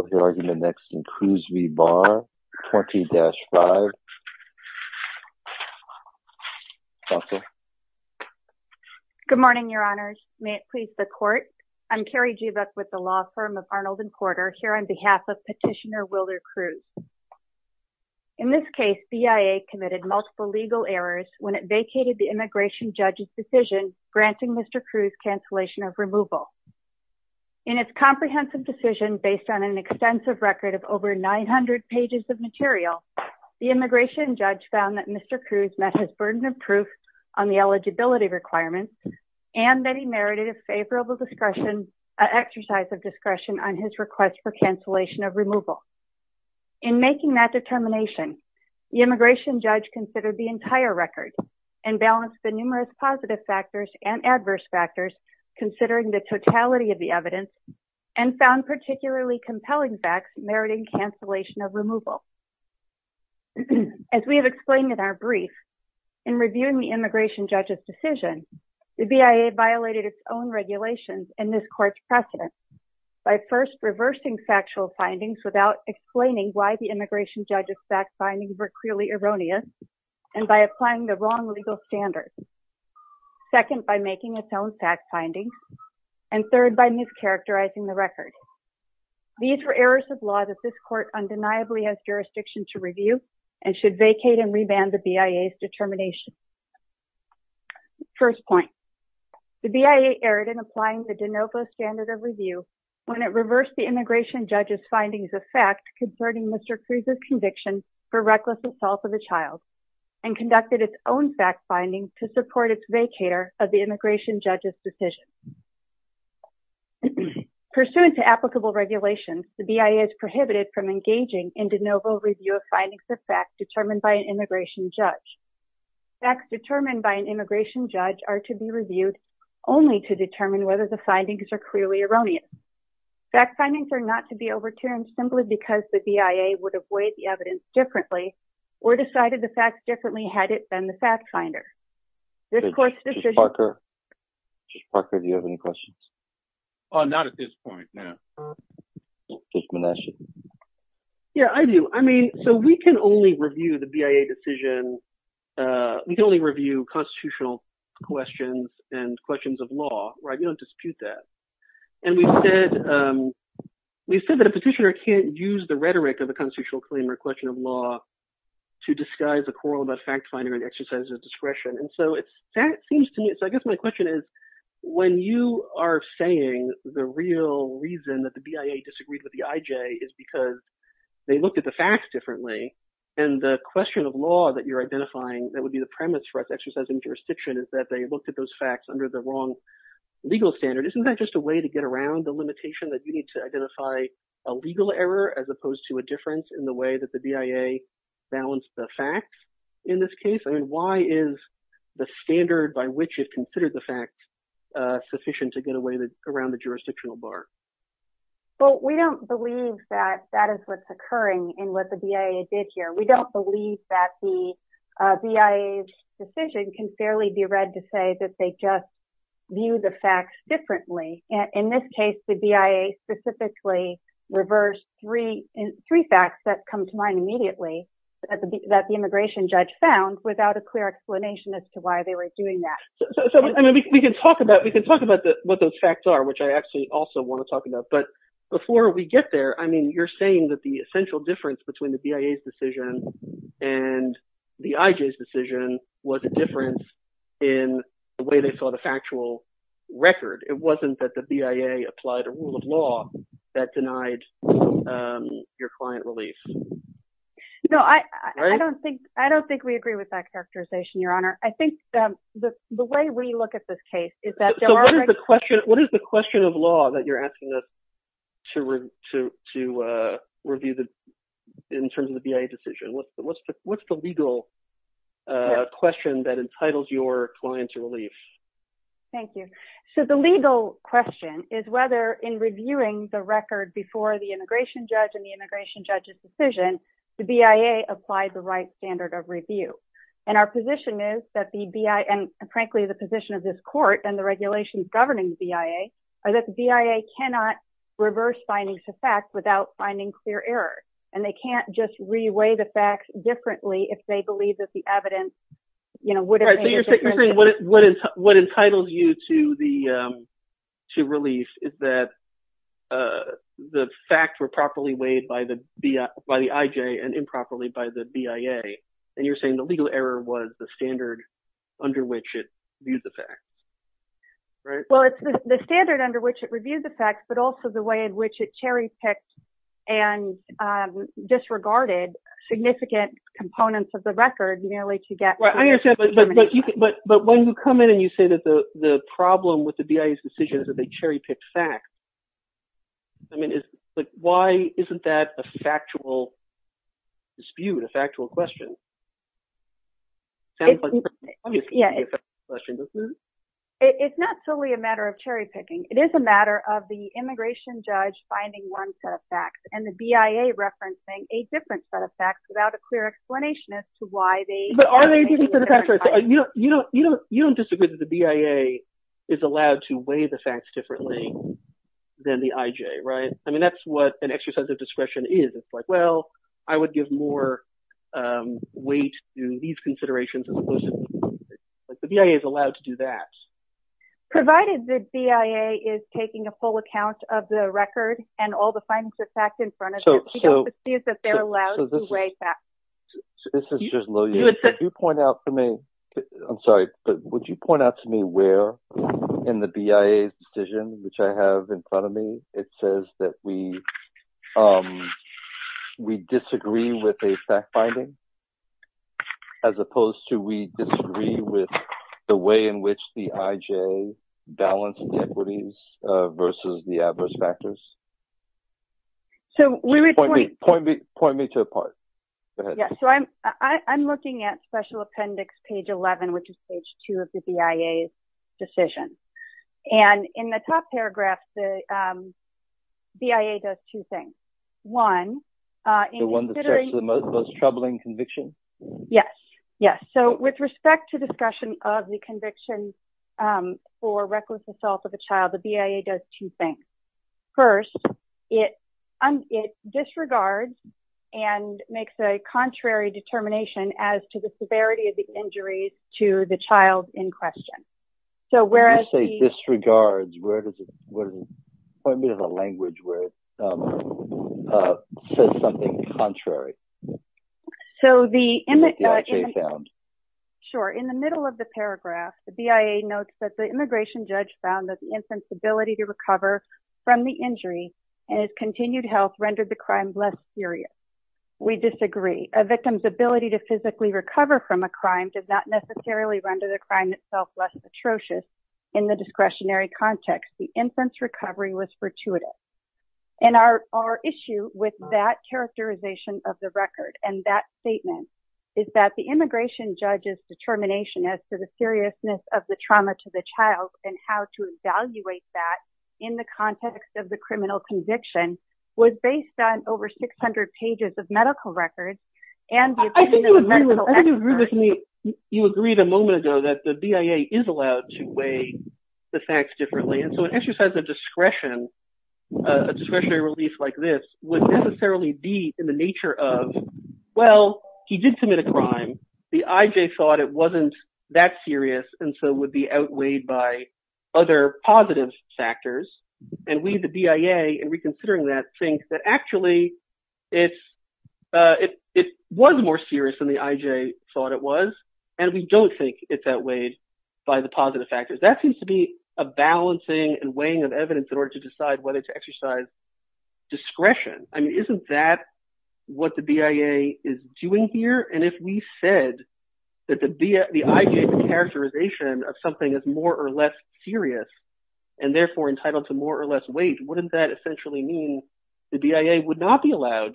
20-5 Good morning, your honors. May it please the court. I'm Carrie Jeebuck with the law firm of Arnold and Porter here on behalf of Petitioner Willard Cruz. In this case, BIA committed multiple legal errors when it vacated the immigration judge's decision granting Mr. Cruz cancellation of removal. In its comprehensive decision based on an extensive record of over 900 pages of material, the immigration judge found that Mr. Cruz met his burden of proof on the eligibility requirements and that he merited a favorable discretion exercise of discretion on his request for cancellation of removal. In making that determination, the immigration judge considered the entire record and balanced the numerous positive factors and adverse factors considering the totality of the evidence and found particularly compelling facts meriting cancellation of removal. As we have explained in our brief, in reviewing the immigration judge's decision, the BIA violated its own regulations and this court's precedent by first reversing factual findings without explaining why the immigration judge's fact findings were clearly erroneous and by applying the wrong legal standards, second by making its own fact findings, and third by mischaracterizing the record. These were errors of law that this court undeniably has jurisdiction to review and should vacate and remand the BIA's determination. First point, the BIA erred in applying the De Novo standard of review when it reversed the immigration judge's findings of fact concerning Mr. Cruz's conviction for reckless assault of a child and conducted its own fact findings to support its vacator of the immigration judge's decision. Pursuant to applicable regulations, the BIA is prohibited from engaging in De Novo review of findings of fact determined by an immigration judge. Facts determined by an immigration judge are to be reviewed only to determine whether the findings are clearly erroneous. Fact findings are not to be overturned simply because the BIA would avoid the evidence differently or decided the facts differently had it been the fact finder. This court's decision... Judge Parker, do you have any questions? Not at this point, no. Judge Manasci. Yeah, I do. I mean, so we can only review the BIA decision, we can only review constitutional questions and questions of law, right? We don't dispute that. And we said that a petitioner can't use the rhetoric of a constitutional claim or question of law to disguise a quarrel about fact finding or the exercise of discretion. And so that seems to me... So I guess my question is when you are saying the real reason that the BIA disagreed with the IJ is because they looked at the facts differently, and the question of law that you're identifying that would be the premise for exercising jurisdiction is that they looked at those facts under the wrong legal standard. Isn't that just a way to get around the limitation that you need to identify a legal error as opposed to a difference in the way that the BIA balanced the facts in this case? I mean, why is the standard by which you've considered the facts sufficient to get around the jurisdictional bar? Well, we don't believe that that is what's occurring in what the BIA did here. We don't believe that the BIA's decision can fairly be read to say that they just view the facts differently. In this case, the BIA specifically reversed three facts that come to mind immediately that the immigration judge found without a clear explanation as to why they were doing that. So, I mean, we can talk about what those facts are, which I actually also want to talk about. But before we get there, I mean, you're saying that the essential difference between the BIA's decision and the IJ's decision was a difference in the way they saw the factual record. It wasn't that the BIA applied a rule of law that denied your client relief. No, I don't think we agree with that characterization, Your Honor. I think the way we look at this case is that there are- So, what is the question of law that you're asking us to review in terms of the BIA decision? What's the legal question that entitles your client to relief? Thank you. So, the legal question is whether in reviewing the record before the immigration judge and the immigration judge's decision, the BIA applied the right standard of review. And our position is that the BIA, and frankly, the position of this court and the regulations governing the BIA, are that the BIA cannot reverse findings to facts without finding clear error. And they can't just re-weigh the facts differently if they believe that All right. So, you're saying what entitles you to relief is that the facts were properly weighed by the IJ and improperly by the BIA. And you're saying the legal error was the standard under which it reviews the facts, right? Well, it's the standard under which it reviews the facts, but also the way in which it cherry-picked and disregarded significant components of the record merely to get- I understand, but when you come in and you say that the problem with the BIA's decision is that they cherry-picked facts, I mean, why isn't that a factual dispute, a factual question? It sounds like it's an obviously factual question, doesn't it? It's not solely a matter of cherry-picking. It is a matter of the immigration judge finding one set of facts and the BIA referencing a different set of facts without a clear explanation as to why they- But are they a different set of facts? You don't disagree that the BIA is allowed to weigh the facts differently than the IJ, right? I mean, that's what an exercise of discretion is. It's like, well, I would give more weight to these considerations as opposed to- like, the BIA is allowed to do that. Provided the BIA is taking a full account of the record and all the findings of facts in front of it, we don't perceive that they're allowed to weigh facts. This is just low- You would think- If you point out to me- I'm sorry, but would you point out to me where in the BIA's decision, which I have in front of me, it says that we disagree with a fact-finding as opposed to we disagree with the way in which the IJ balanced the equities versus the adverse factors? So, we would point- Point me to a part. Go ahead. Yeah. So, I'm looking at special appendix page 11, which is page 2 of the BIA's decision. And in the top paragraph, the BIA does two things. One, in considering- The one that's actually the most troubling conviction? Yes. Yes. So, with respect to discussion of the conviction for reckless assault of a child, the BIA does two things. First, it disregards and makes a contrary determination as to the severity of the injuries to the child in question. So, whereas- When you say disregards, where does it- point me to the language where it says something contrary. So, the- That the IJ found. Sure. In the middle of the paragraph, the BIA notes that the immigration judge found that the infant's ability to recover from the injury and its continued health rendered the crime less serious. We disagree. A victim's ability to physically recover from a crime did not necessarily render the crime itself less atrocious in the discretionary context. The infant's recovery was fortuitous. And our issue with that characterization of the record and that statement is that the immigration judge's determination as to the seriousness of the trauma to the child and how to evaluate that in the context of the criminal conviction was based on over 600 pages of medical records and the- I think you agree with me. You agreed a moment ago that the BIA is allowed to weigh the facts differently. And so, an exercise of discretion, a discretionary release like this would necessarily be in the nature of, well, he did commit a crime. The IJ thought it wasn't that serious and so would be outweighed by other positive factors. And we, the BIA, in reconsidering that think that actually it was more serious than the IJ thought it was. And we don't think it's outweighed by the positive factors. That seems to be a balancing and weighing of evidence in order to decide whether to exercise discretion. I mean, isn't that what the BIA is doing here? And if we said that the IJ's characterization of something is more or less serious and therefore entitled to more or less weight, wouldn't that essentially mean the BIA would not be allowed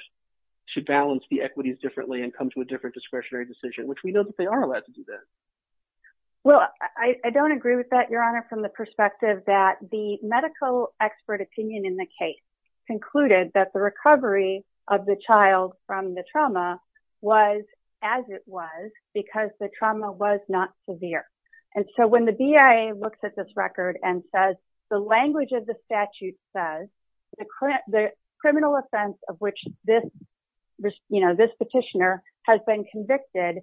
to balance the equities differently and come to a different discretionary decision, which we know that they are allowed to do that. Well, I don't agree with that, Your Honor, from the perspective that the medical expert opinion in the case concluded that the recovery of the child from the trauma was as it was because the trauma was not severe. And so when the BIA looks at this record and says, the language of the statute says the criminal offense of which this, you know, this petitioner has been convicted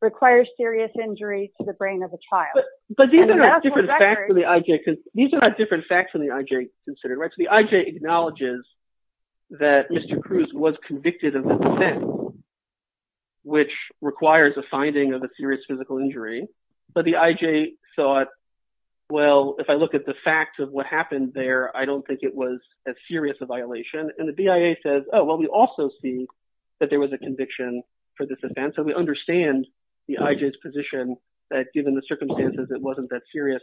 requires serious injury to the brain of the child. But these are not different facts from the IJ, because these are not different facts from the IJ considered, right? So the IJ acknowledges that Mr. Cruz was convicted of an offense, which requires a finding of a serious physical injury. But the IJ thought, well, if I look at the facts of what happened there, I don't think it was as serious a violation. And the BIA says, oh, well, we also see that there was a conviction for this offense. So we understand the IJ's position that given the circumstances, it wasn't that serious.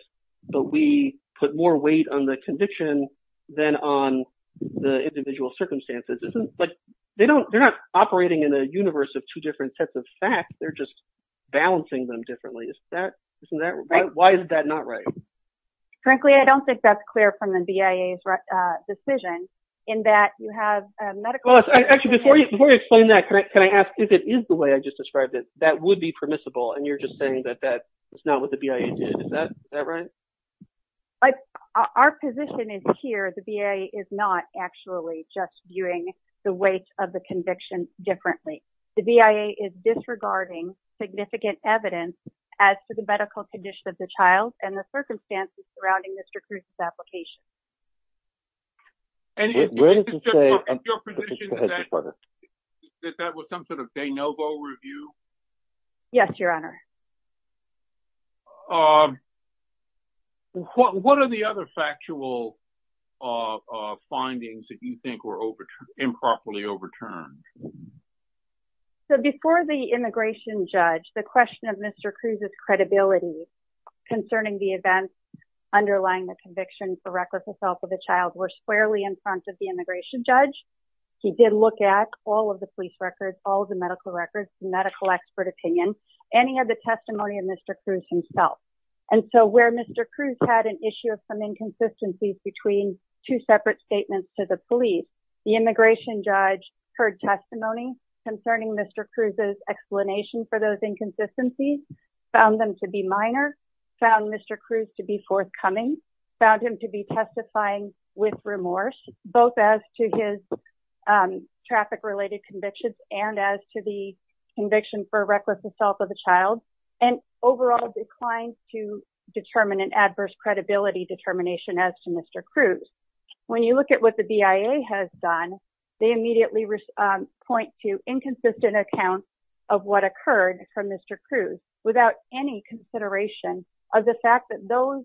But we put more weight on the conviction than on the individual circumstances. But they're not operating in a universe of two different sets of facts. They're just balancing them differently. Why is that not right? Frankly, I don't think that's clear from the BIA's decision in that you have a medical... Actually, before you explain that, can I ask if it is the way I just described it, that would be permissible. And you're just saying it's not what the BIA did. Is that right? Our position is here, the BIA is not actually just viewing the weight of the conviction differently. The BIA is disregarding significant evidence as to the medical condition of the child and the circumstances surrounding Mr. Cruz's application. And your position is that was some sort of de novo review? Yes, Your Honor. What are the other factual findings that you think were improperly overturned? So before the immigration judge, the question of Mr. Cruz's credibility concerning the events underlying the conviction for reckless assault of a child were squarely in front of the immigration judge. He did look at all of the police records, all of the medical records, medical expert opinion, and he had the testimony of Mr. Cruz himself. And so where Mr. Cruz had an issue of some inconsistencies between two separate statements to the police, the immigration judge heard testimony concerning Mr. Cruz's explanation for those inconsistencies, found them to be minor, found Mr. Cruz to be forthcoming, found him to be testifying with remorse, both as to his traffic-related convictions and as to the conviction for reckless assault of a child, and overall declined to determine an adverse credibility determination as to Mr. Cruz. When you look at what the BIA has done, they immediately point to inconsistent accounts of what occurred from Mr. Cruz without any consideration of the fact that those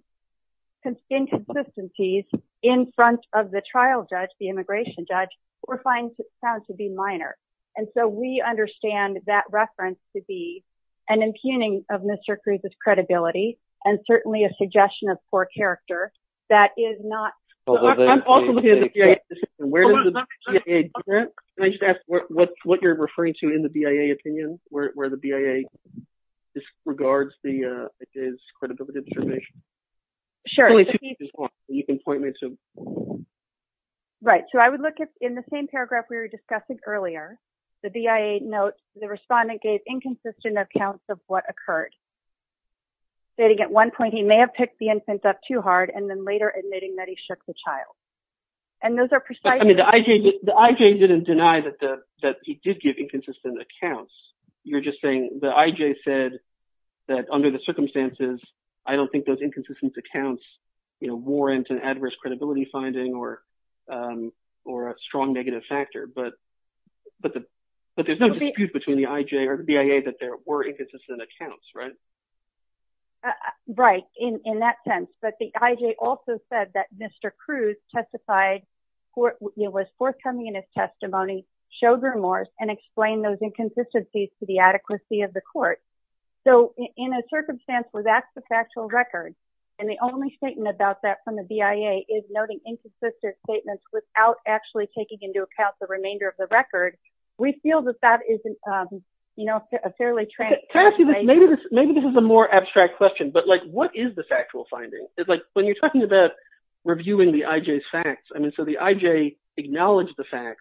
inconsistencies in front of the trial judge, the immigration judge, were found to be minor. And so we understand that reference to be an impugning of Mr. Cruz's credibility and certainly a suggestion of poor character that is not... I'm also looking at the BIA decision. Where does the BIA differ? Can I just ask what you're referring to in the BIA opinion where the BIA disregards his credibility determination? Sure. Right. So I would look at, in the same paragraph we were discussing earlier, the BIA notes the respondent gave inconsistent accounts of what occurred, stating at one point he may have picked the infant up too hard and then later admitting that he shook the child. And those are precisely... I mean, the IJ didn't deny that he did give inconsistent accounts. You're just saying the IJ said that under the circumstances, I don't think those inconsistent accounts warrant an adverse credibility finding or a strong negative factor. But there's no dispute between the IJ or the BIA that there were inconsistent accounts, right? Right. In that sense. But the IJ also said that Mr. Cruz testified, was forthcoming in his testimony, showed remorse, and explained those inconsistencies to the adequacy of the court. So in a circumstance where that's the factual record, and the only statement about that from the BIA is noting inconsistent statements without actually taking into account the remainder of the record, we feel that that is a fairly transparent finding. Cassie, maybe this is a more abstract question, but what is the factual finding? When you're talking about reviewing the IJ's facts, I mean, so the IJ acknowledged the fact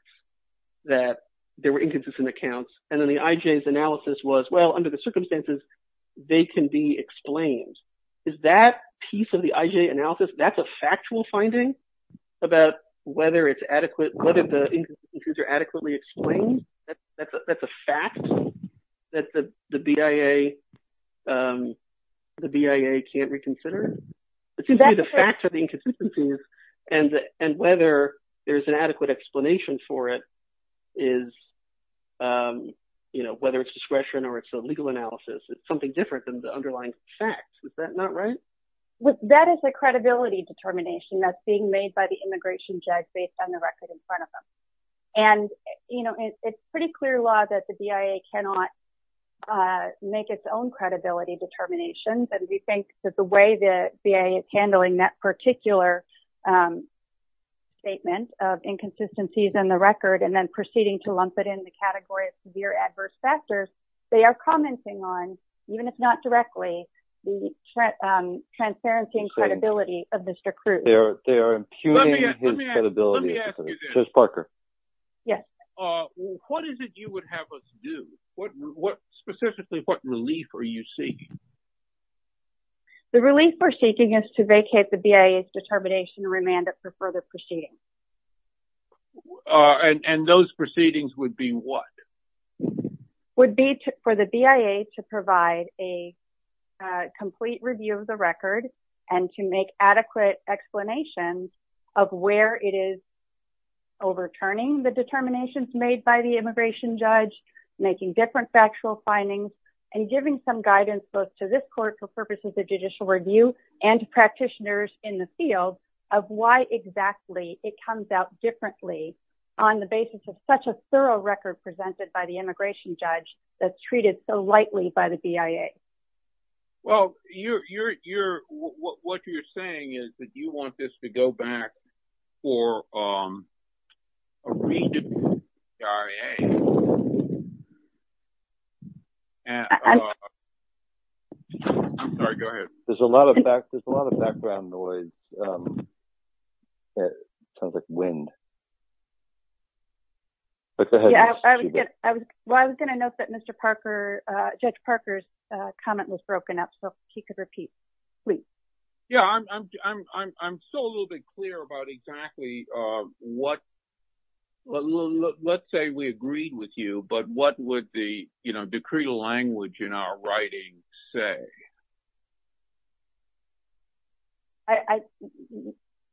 that there were inconsistent accounts, and then the IJ's analysis was, well, under the circumstances, they can be explained. Is that piece of the IJ analysis, that's a factual finding about whether it's adequate, whether the inconsistencies are adequately explained? That's a fact that the BIA can't reconsider? It seems to me the facts are inconsistencies, and whether there's an adequate explanation for it is, you know, whether it's discretion or it's a legal analysis. It's something different than the underlying facts. Is that not right? Well, that is a credibility determination that's being made by the immigration judge based on the record in front of them. And, you know, it's pretty clear law that the BIA cannot make its own credibility determinations, and we think that the way the BIA is handling that particular statement of inconsistencies in the record, and then proceeding to lump it in the category of severe adverse factors, they are commenting on, even if not directly, the transparency and credibility of Mr. Cruz. They are impugning his credibility. Let me ask you this. Chris Parker. Yes. What is it you would have us do? Specifically, what relief are you seeking? The relief we're seeking is to vacate the BIA's determination remand for further proceedings. And those proceedings would be what? Would be for the BIA to provide a more thorough record of why exactly it comes out differently on the basis of such a thorough record presented by the immigration judge that's treated so lightly by the BIA. Well, you're, you're, you're, what you're saying is that you want this to go back for a re-division of the BIA, and, I'm sorry, go ahead. There's a lot of back, there's a lot of background noise. Sounds like wind. I was going to note that Mr. Parker, Judge Parker's comment was broken up, so if he could repeat, please. Yeah, I'm, I'm, I'm, I'm still a little bit clear about exactly what, let's say we agreed with you, but what would the, you know, decretal language in our writing say?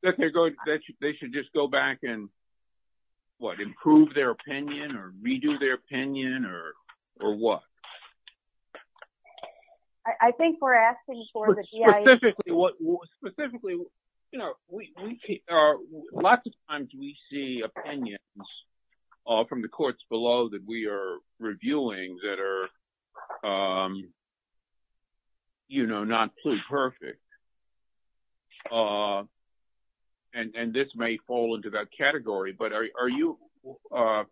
That they're going, that they should just go back and, what, improve their opinion, or redo their opinion, or, or what? I, I think we're asking for the BIA. Specifically, what, specifically, you know, we, we, lots of times we see opinions from the courts below that we are reviewing that are, you know, not pluperfect, and, and this may fall into that category, but are you, I,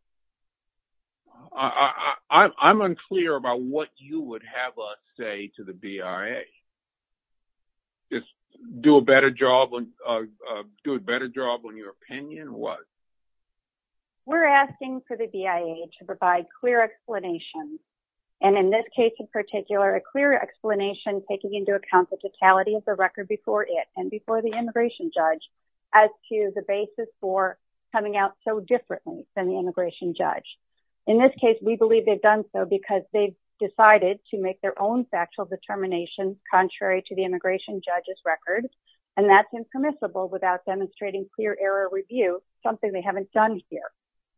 I, I'm unclear about what you would have us say to the BIA. Just do a better job on, do a better job on your opinion, or what? We're asking for the BIA to provide clear explanations, and in this case in particular, a clear explanation taking into account the legality of the record before it, and before the immigration judge, as to the basis for coming out so differently than the immigration judge. In this case, we believe they've done so because they've decided to make their own factual determination contrary to the immigration judge's record, and that's impermissible without demonstrating clear error review, something they haven't done here.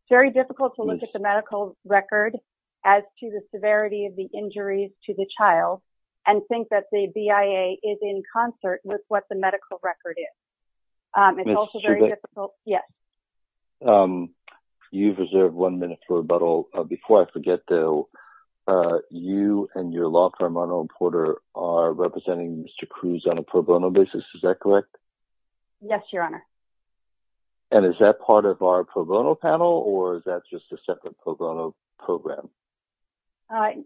Very difficult to look at the medical record as to the severity of the injuries to the child, and think that the BIA is in concert with what the medical record is. It's also very difficult. Yes. You've reserved one minute for rebuttal. Before I forget, though, you and your law firm, Arnold Porter, are representing Mr. Cruz on a pro bono basis, is that correct? Yes, Your Honor. And is that part of our pro bono panel, or is that just a separate pro bono program?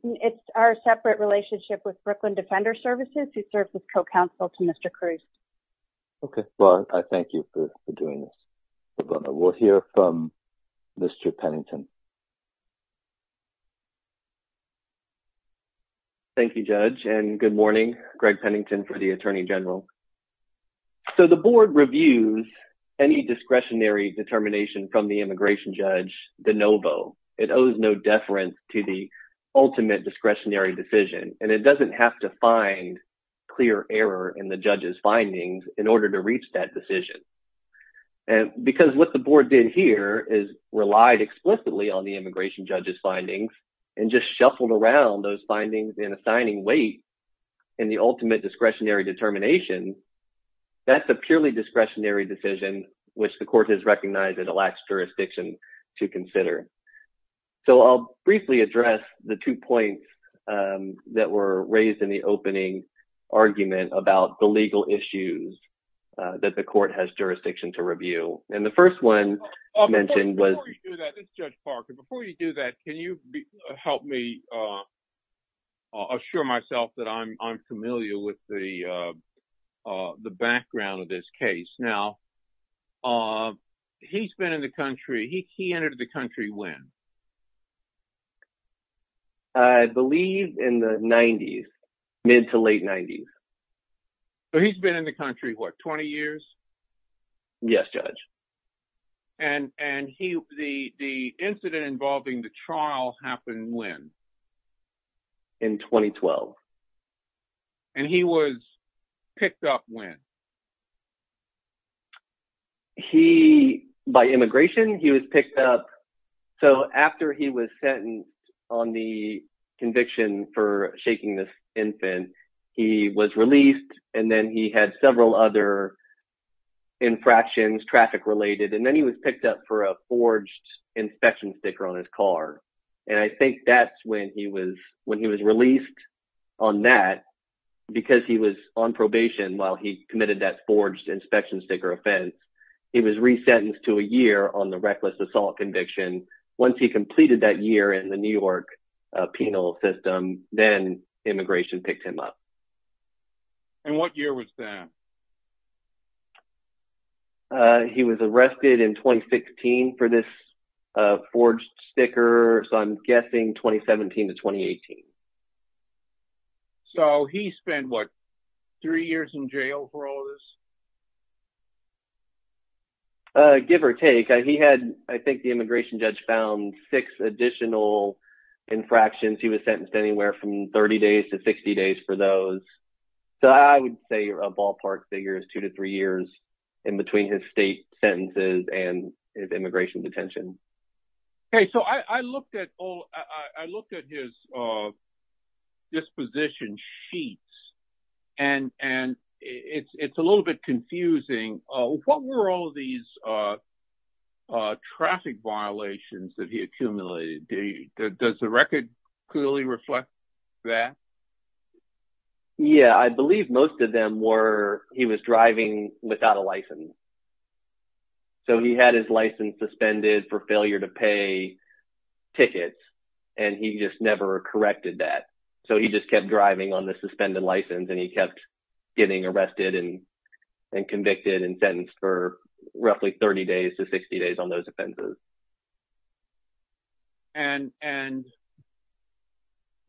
It's our separate relationship with Brooklyn Defender Services, who serves as co-counsel to Mr. Cruz. Okay. Well, I thank you for doing this. We'll hear from Mr. Pennington. Thank you, Judge, and good morning. Greg Pennington for the Attorney General. So, the board reviews any discretionary determination from the immigration judge, de novo. It owes no deference to the ultimate discretionary decision, and it doesn't have to find clear error in the judge's findings in order to reach that decision. Because what the board did here is relied explicitly on the immigration judge's findings, and just shuffled around those That's a purely discretionary decision, which the court has recognized it lacks jurisdiction to consider. So, I'll briefly address the two points that were raised in the opening argument about the legal issues that the court has jurisdiction to review. And the first one you mentioned was... Before you do that, Judge Parker, before you do that, can you help me assure myself that I'm familiar with the background of this case? Now, he's been in the country... He entered the country when? I believe in the 90s, mid to late 90s. So, he's been in the country, what, 20 years? Yes, Judge. And the incident involving the trial happened when? In 2012. And he was picked up when? By immigration, he was picked up. So, after he was sentenced on the conviction for shaking this was picked up for a forged inspection sticker on his car. And I think that's when he was released on that, because he was on probation while he committed that forged inspection sticker offense. He was resentenced to a year on the reckless assault conviction. Once he completed that year in the New York penal system, then immigration picked him up. And what year was that? He was arrested in 2016 for this forged sticker. So, I'm guessing 2017 to 2018. So, he spent, what, three years in jail for all of this? Give or take. He had, I think the immigration judge found six additional infractions. He was sentenced anywhere from 30 days to 60 days for those. So, I would say a ballpark sentence. Two to three years in between his state sentences and his immigration detention. Okay. So, I looked at his disposition sheets, and it's a little bit confusing. What were all these traffic violations that he accumulated? Does the record clearly reflect that? Yeah. I believe most of them were he was driving without a license. So, he had his license suspended for failure to pay tickets, and he just never corrected that. So, he just kept driving on the suspended license, and he kept getting arrested and convicted and sentenced for roughly 30 days on those offenses. And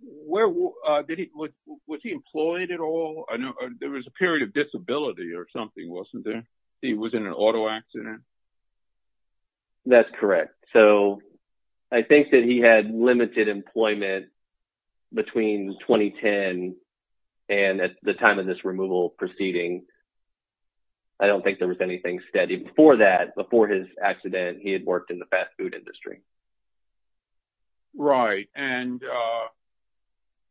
was he employed at all? There was a period of disability or something, wasn't there? He was in an auto accident? That's correct. So, I think that he had limited employment between 2010 and at the time of this removal proceeding. I don't think there was anything steady. Before that, before his accident, he had worked in the fast food industry. Right. And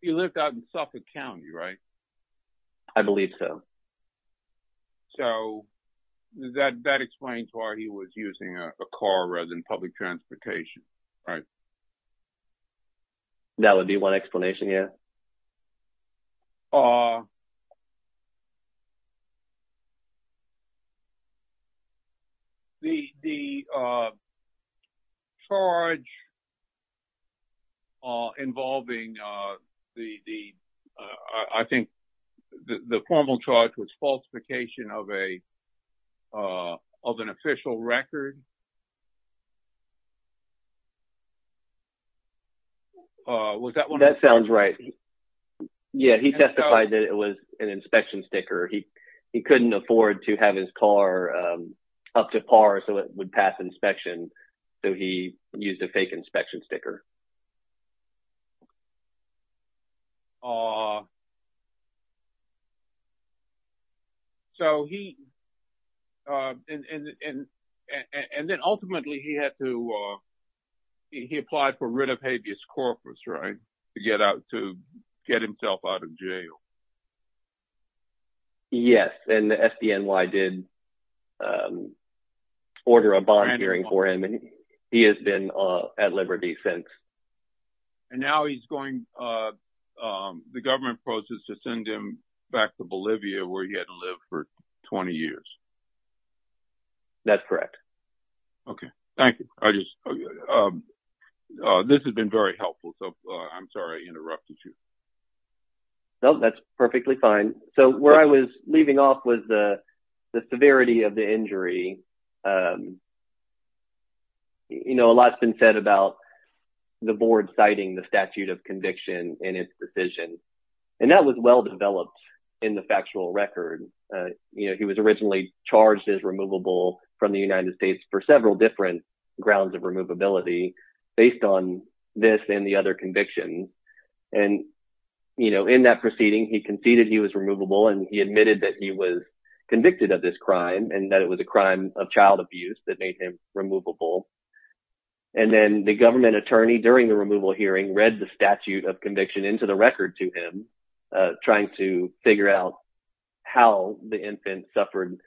he lived out in Suffolk County, right? I believe so. So, that explains why he was using a car rather than public transportation, right? That would be one explanation, yeah. The charge involving the, I think, the formal charge was falsification of an official record. Was that one? That sounds right. Yeah, he testified that it was an inspection sticker. He couldn't afford to have his car up to par so it would pass inspection. So, he used a fake inspection sticker. And then, ultimately, he applied for writ of habeas corpus, right? To get himself out of jail. Yes. And the SBNY did order a bond hearing for him. And he has been at liberty since. And now he's going, the government proposed to send him back to Bolivia where he had lived for 20 years. That's correct. Okay. Thank you. This has been very helpful. So, where I was leaving off was the severity of the injury. You know, a lot's been said about the board citing the statute of conviction in its decision. And that was well-developed in the factual record. He was originally charged as removable from the United States for several different grounds of removability based on this and the he admitted that he was convicted of this crime and that it was a crime of child abuse that made him removable. And then, the government attorney during the removal hearing read the statute of conviction into the record to him trying to figure out how the infant suffered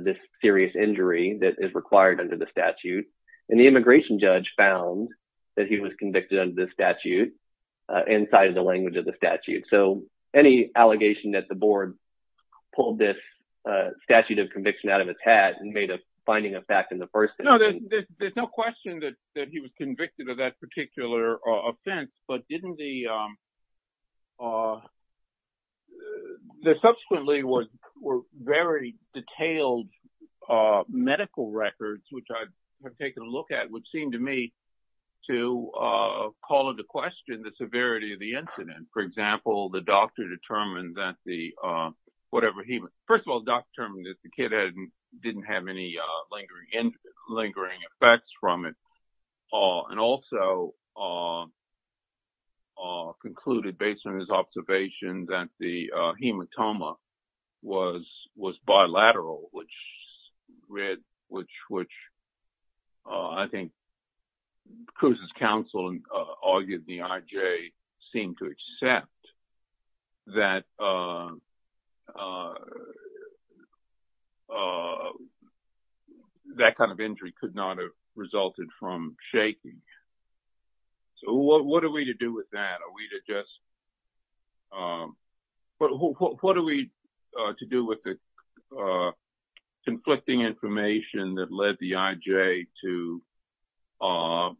this serious injury that is required under the statute. And the immigration judge found that he was convicted of this statute inside of the language of the statute. So, any allegation that the board pulled this statute of conviction out of its hat and made a finding of fact in the first... No, there's no question that he was convicted of that particular offense, but didn't the... Subsequently, were very detailed medical records, which I've taken a look at, which seemed to me to call into question the severity of the incident. For example, the doctor determined that the kid didn't have any lingering effects from it. And also, concluded based on his observation that the hematoma was bilateral, which I think Cruz's counsel argued the IJ seemed to accept that kind of injury could not have resulted from shaking. So, what are we to do with that? Are we to let the IJ to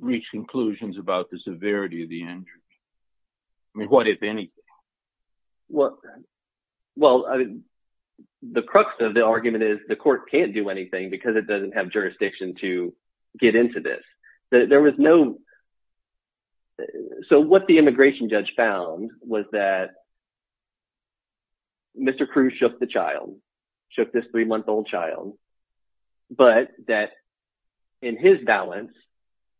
reach conclusions about the severity of the injury? I mean, what if anything? Well, the crux of the argument is the court can't do anything because it doesn't have jurisdiction to get into this. So, what the immigration judge found was that Mr. Cruz shook the child, but that in his balance,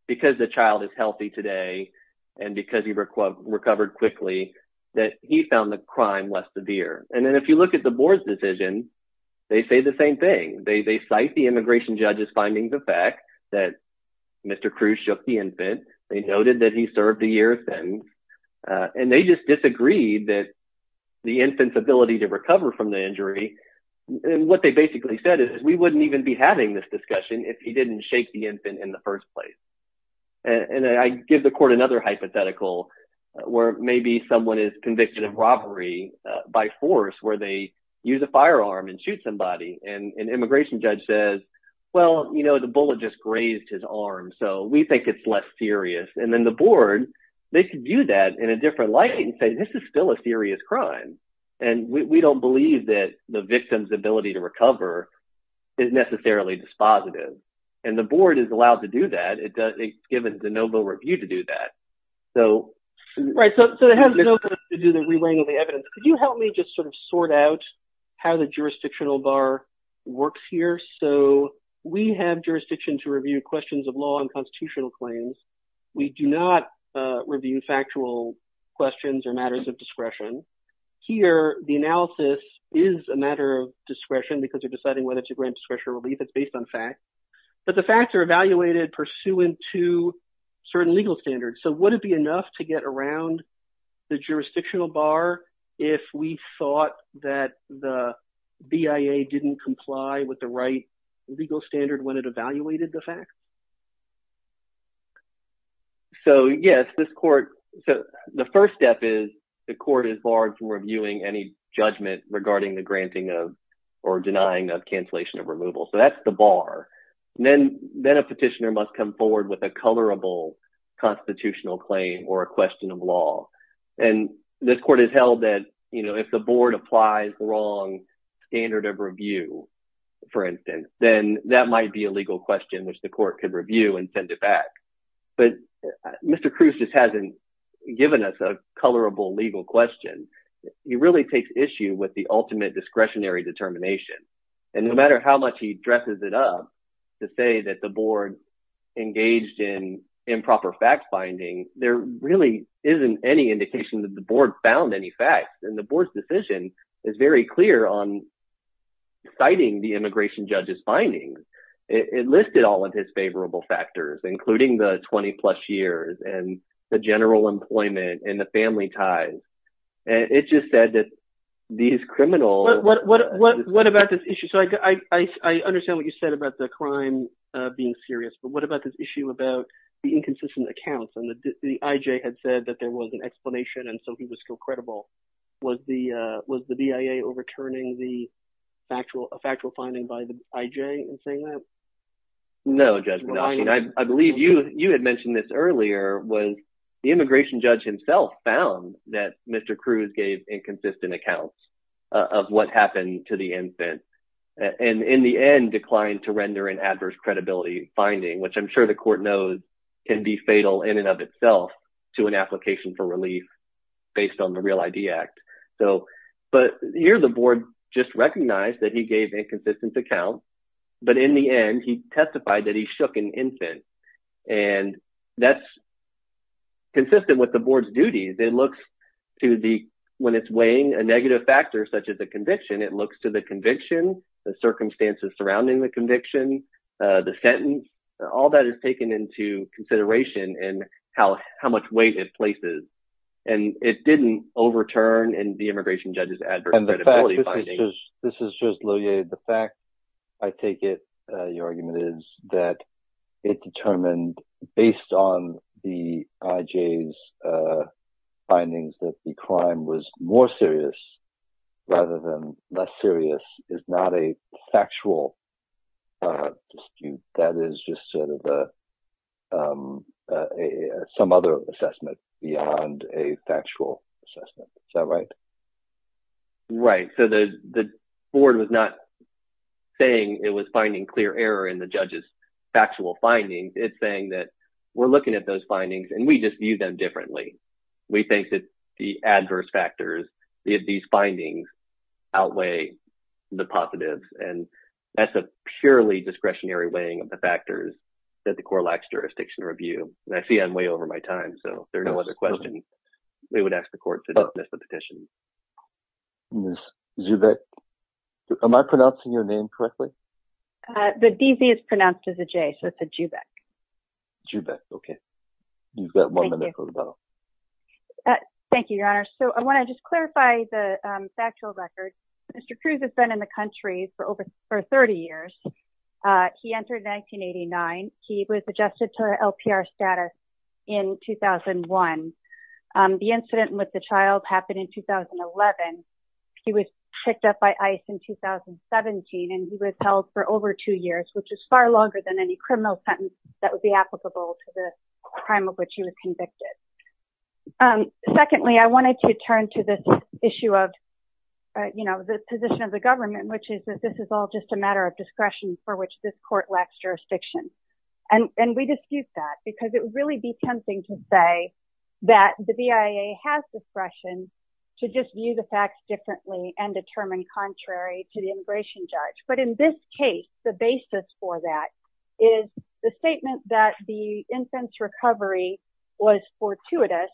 because the child is healthy today and because he recovered quickly, that he found the crime less severe. And then if you look at the board's decision, they say the same thing. They cite the immigration judge's findings of fact that Mr. Cruz shook the infant. They noted that he served a year of sentence. And they just disagreed that the wouldn't even be having this discussion if he didn't shake the infant in the first place. And I give the court another hypothetical where maybe someone is convicted of robbery by force, where they use a firearm and shoot somebody. And an immigration judge says, well, you know, the bullet just grazed his arm. So, we think it's less serious. And then the board, they could view that in a different light and say, this is still a serious crime. And we don't believe that the is necessarily dispositive. And the board is allowed to do that. It's given de novo review to do that. So... Right. So, it has nothing to do with the relaying of the evidence. Could you help me just sort of sort out how the jurisdictional bar works here? So, we have jurisdiction to review questions of law and constitutional claims. We do not review factual questions or matters of discretion. Here, the analysis is a matter of discretion because you're deciding whether to grant discretion or relief. It's based on facts. But the facts are evaluated pursuant to certain legal standards. So, would it be enough to get around the jurisdictional bar if we thought that the BIA didn't comply with the right legal standard when it evaluated the facts? So, yes, this court... So, the first step is the court is barred from reviewing any judgment regarding the granting of or denying of cancellation of removal. So, that's the bar. And then a petitioner must come forward with a colorable constitutional claim or a question of law. And this court has held that if the board applies the wrong standard of review, for instance, then that might be a legal question which the court could review and send it back. But Mr. Cruz just hasn't given us a colorable legal question. He really takes issue with ultimate discretionary determination. And no matter how much he dresses it up to say that the board engaged in improper fact-finding, there really isn't any indication that the board found any facts. And the board's decision is very clear on citing the immigration judge's findings. It listed all of his favorable factors, including the 20-plus years and the general employment and family ties. And it just said that these criminals... What about this issue? So, I understand what you said about the crime being serious, but what about this issue about the inconsistent accounts? And the IJ had said that there was an explanation, and so he was still credible. Was the BIA overturning the factual finding by the IJ in saying that? No, Judge was... The immigration judge himself found that Mr. Cruz gave inconsistent accounts of what happened to the infant, and in the end declined to render an adverse credibility finding, which I'm sure the court knows can be fatal in and of itself to an application for relief based on the Real ID Act. But here the board just recognized that he gave inconsistent accounts, but in the end, he testified that he shook an infant. And that's consistent with the board's duties. It looks to the... When it's weighing a negative factor, such as a conviction, it looks to the conviction, the circumstances surrounding the conviction, the sentence. All that is taken into consideration and how much weight it places. And it didn't overturn in the immigration judge's adverse credibility finding. And the fact... This is just... This is just... The fact, I take it, your argument is that it determined based on the IJ's findings that the crime was more serious rather than less serious is not a factual dispute. That is just a... Some other assessment beyond a factual assessment. Is that right? Right. So the board was not saying it was finding clear error in the judge's factual findings. It's saying that we're looking at those findings and we just view them differently. We think that the adverse factors, these findings outweigh the positives. And that's a purely discretionary weighing of the factors that the court lacks jurisdiction to review. And I see I'm way over my time, so if there's no other questions, we would ask the court to dismiss the petition. Ms. Zubek, am I pronouncing your name correctly? The DZ is pronounced as a J, so it's a Zubek. Zubek. Okay. You've got one minute for the bell. Thank you, your honor. So I want to just clarify the factual record. Mr. Cruz has been in the jail for three years. He entered 1989. He was adjusted to LPR status in 2001. The incident with the child happened in 2011. He was picked up by ICE in 2017 and he was held for over two years, which is far longer than any criminal sentence that would be applicable to the crime of which he was convicted. Secondly, I wanted to turn to this issue of the position of the government, which is that this is all just a matter of discretion for which this court lacks jurisdiction. And we dispute that because it would really be tempting to say that the BIA has discretion to just view the facts differently and determine contrary to the immigration judge. But in this case, the basis for that is the statement that the infant's recovery was fortuitous,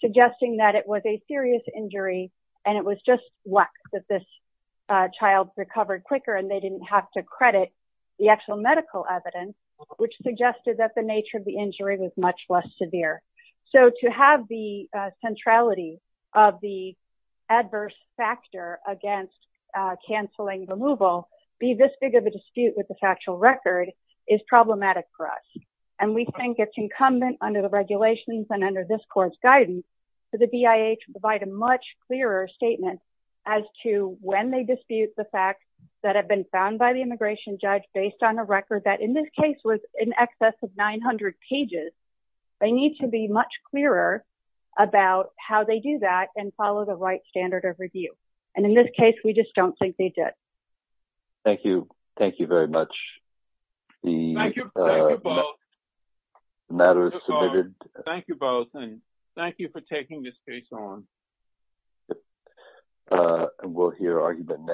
suggesting that it was a serious injury and it was just luck that this child recovered quicker and they didn't have to credit the actual medical evidence, which suggested that the nature of the injury was much less severe. So to have the centrality of the adverse factor against canceling removal, be this big of a dispute with the factual record is problematic for us. And we think it's incumbent under the regulations and under this court's guidance for the BIA to provide a much clearer statement as to when they dispute the facts that have been found by the immigration judge, based on a record that in this case was in excess of 900 pages. They need to be much clearer about how they do that and follow the right standard of review. And in this case, we just don't think they Thank you. Thank you very much. The matter is submitted. Thank you both. Thank you for taking this case on. We'll hear argument next.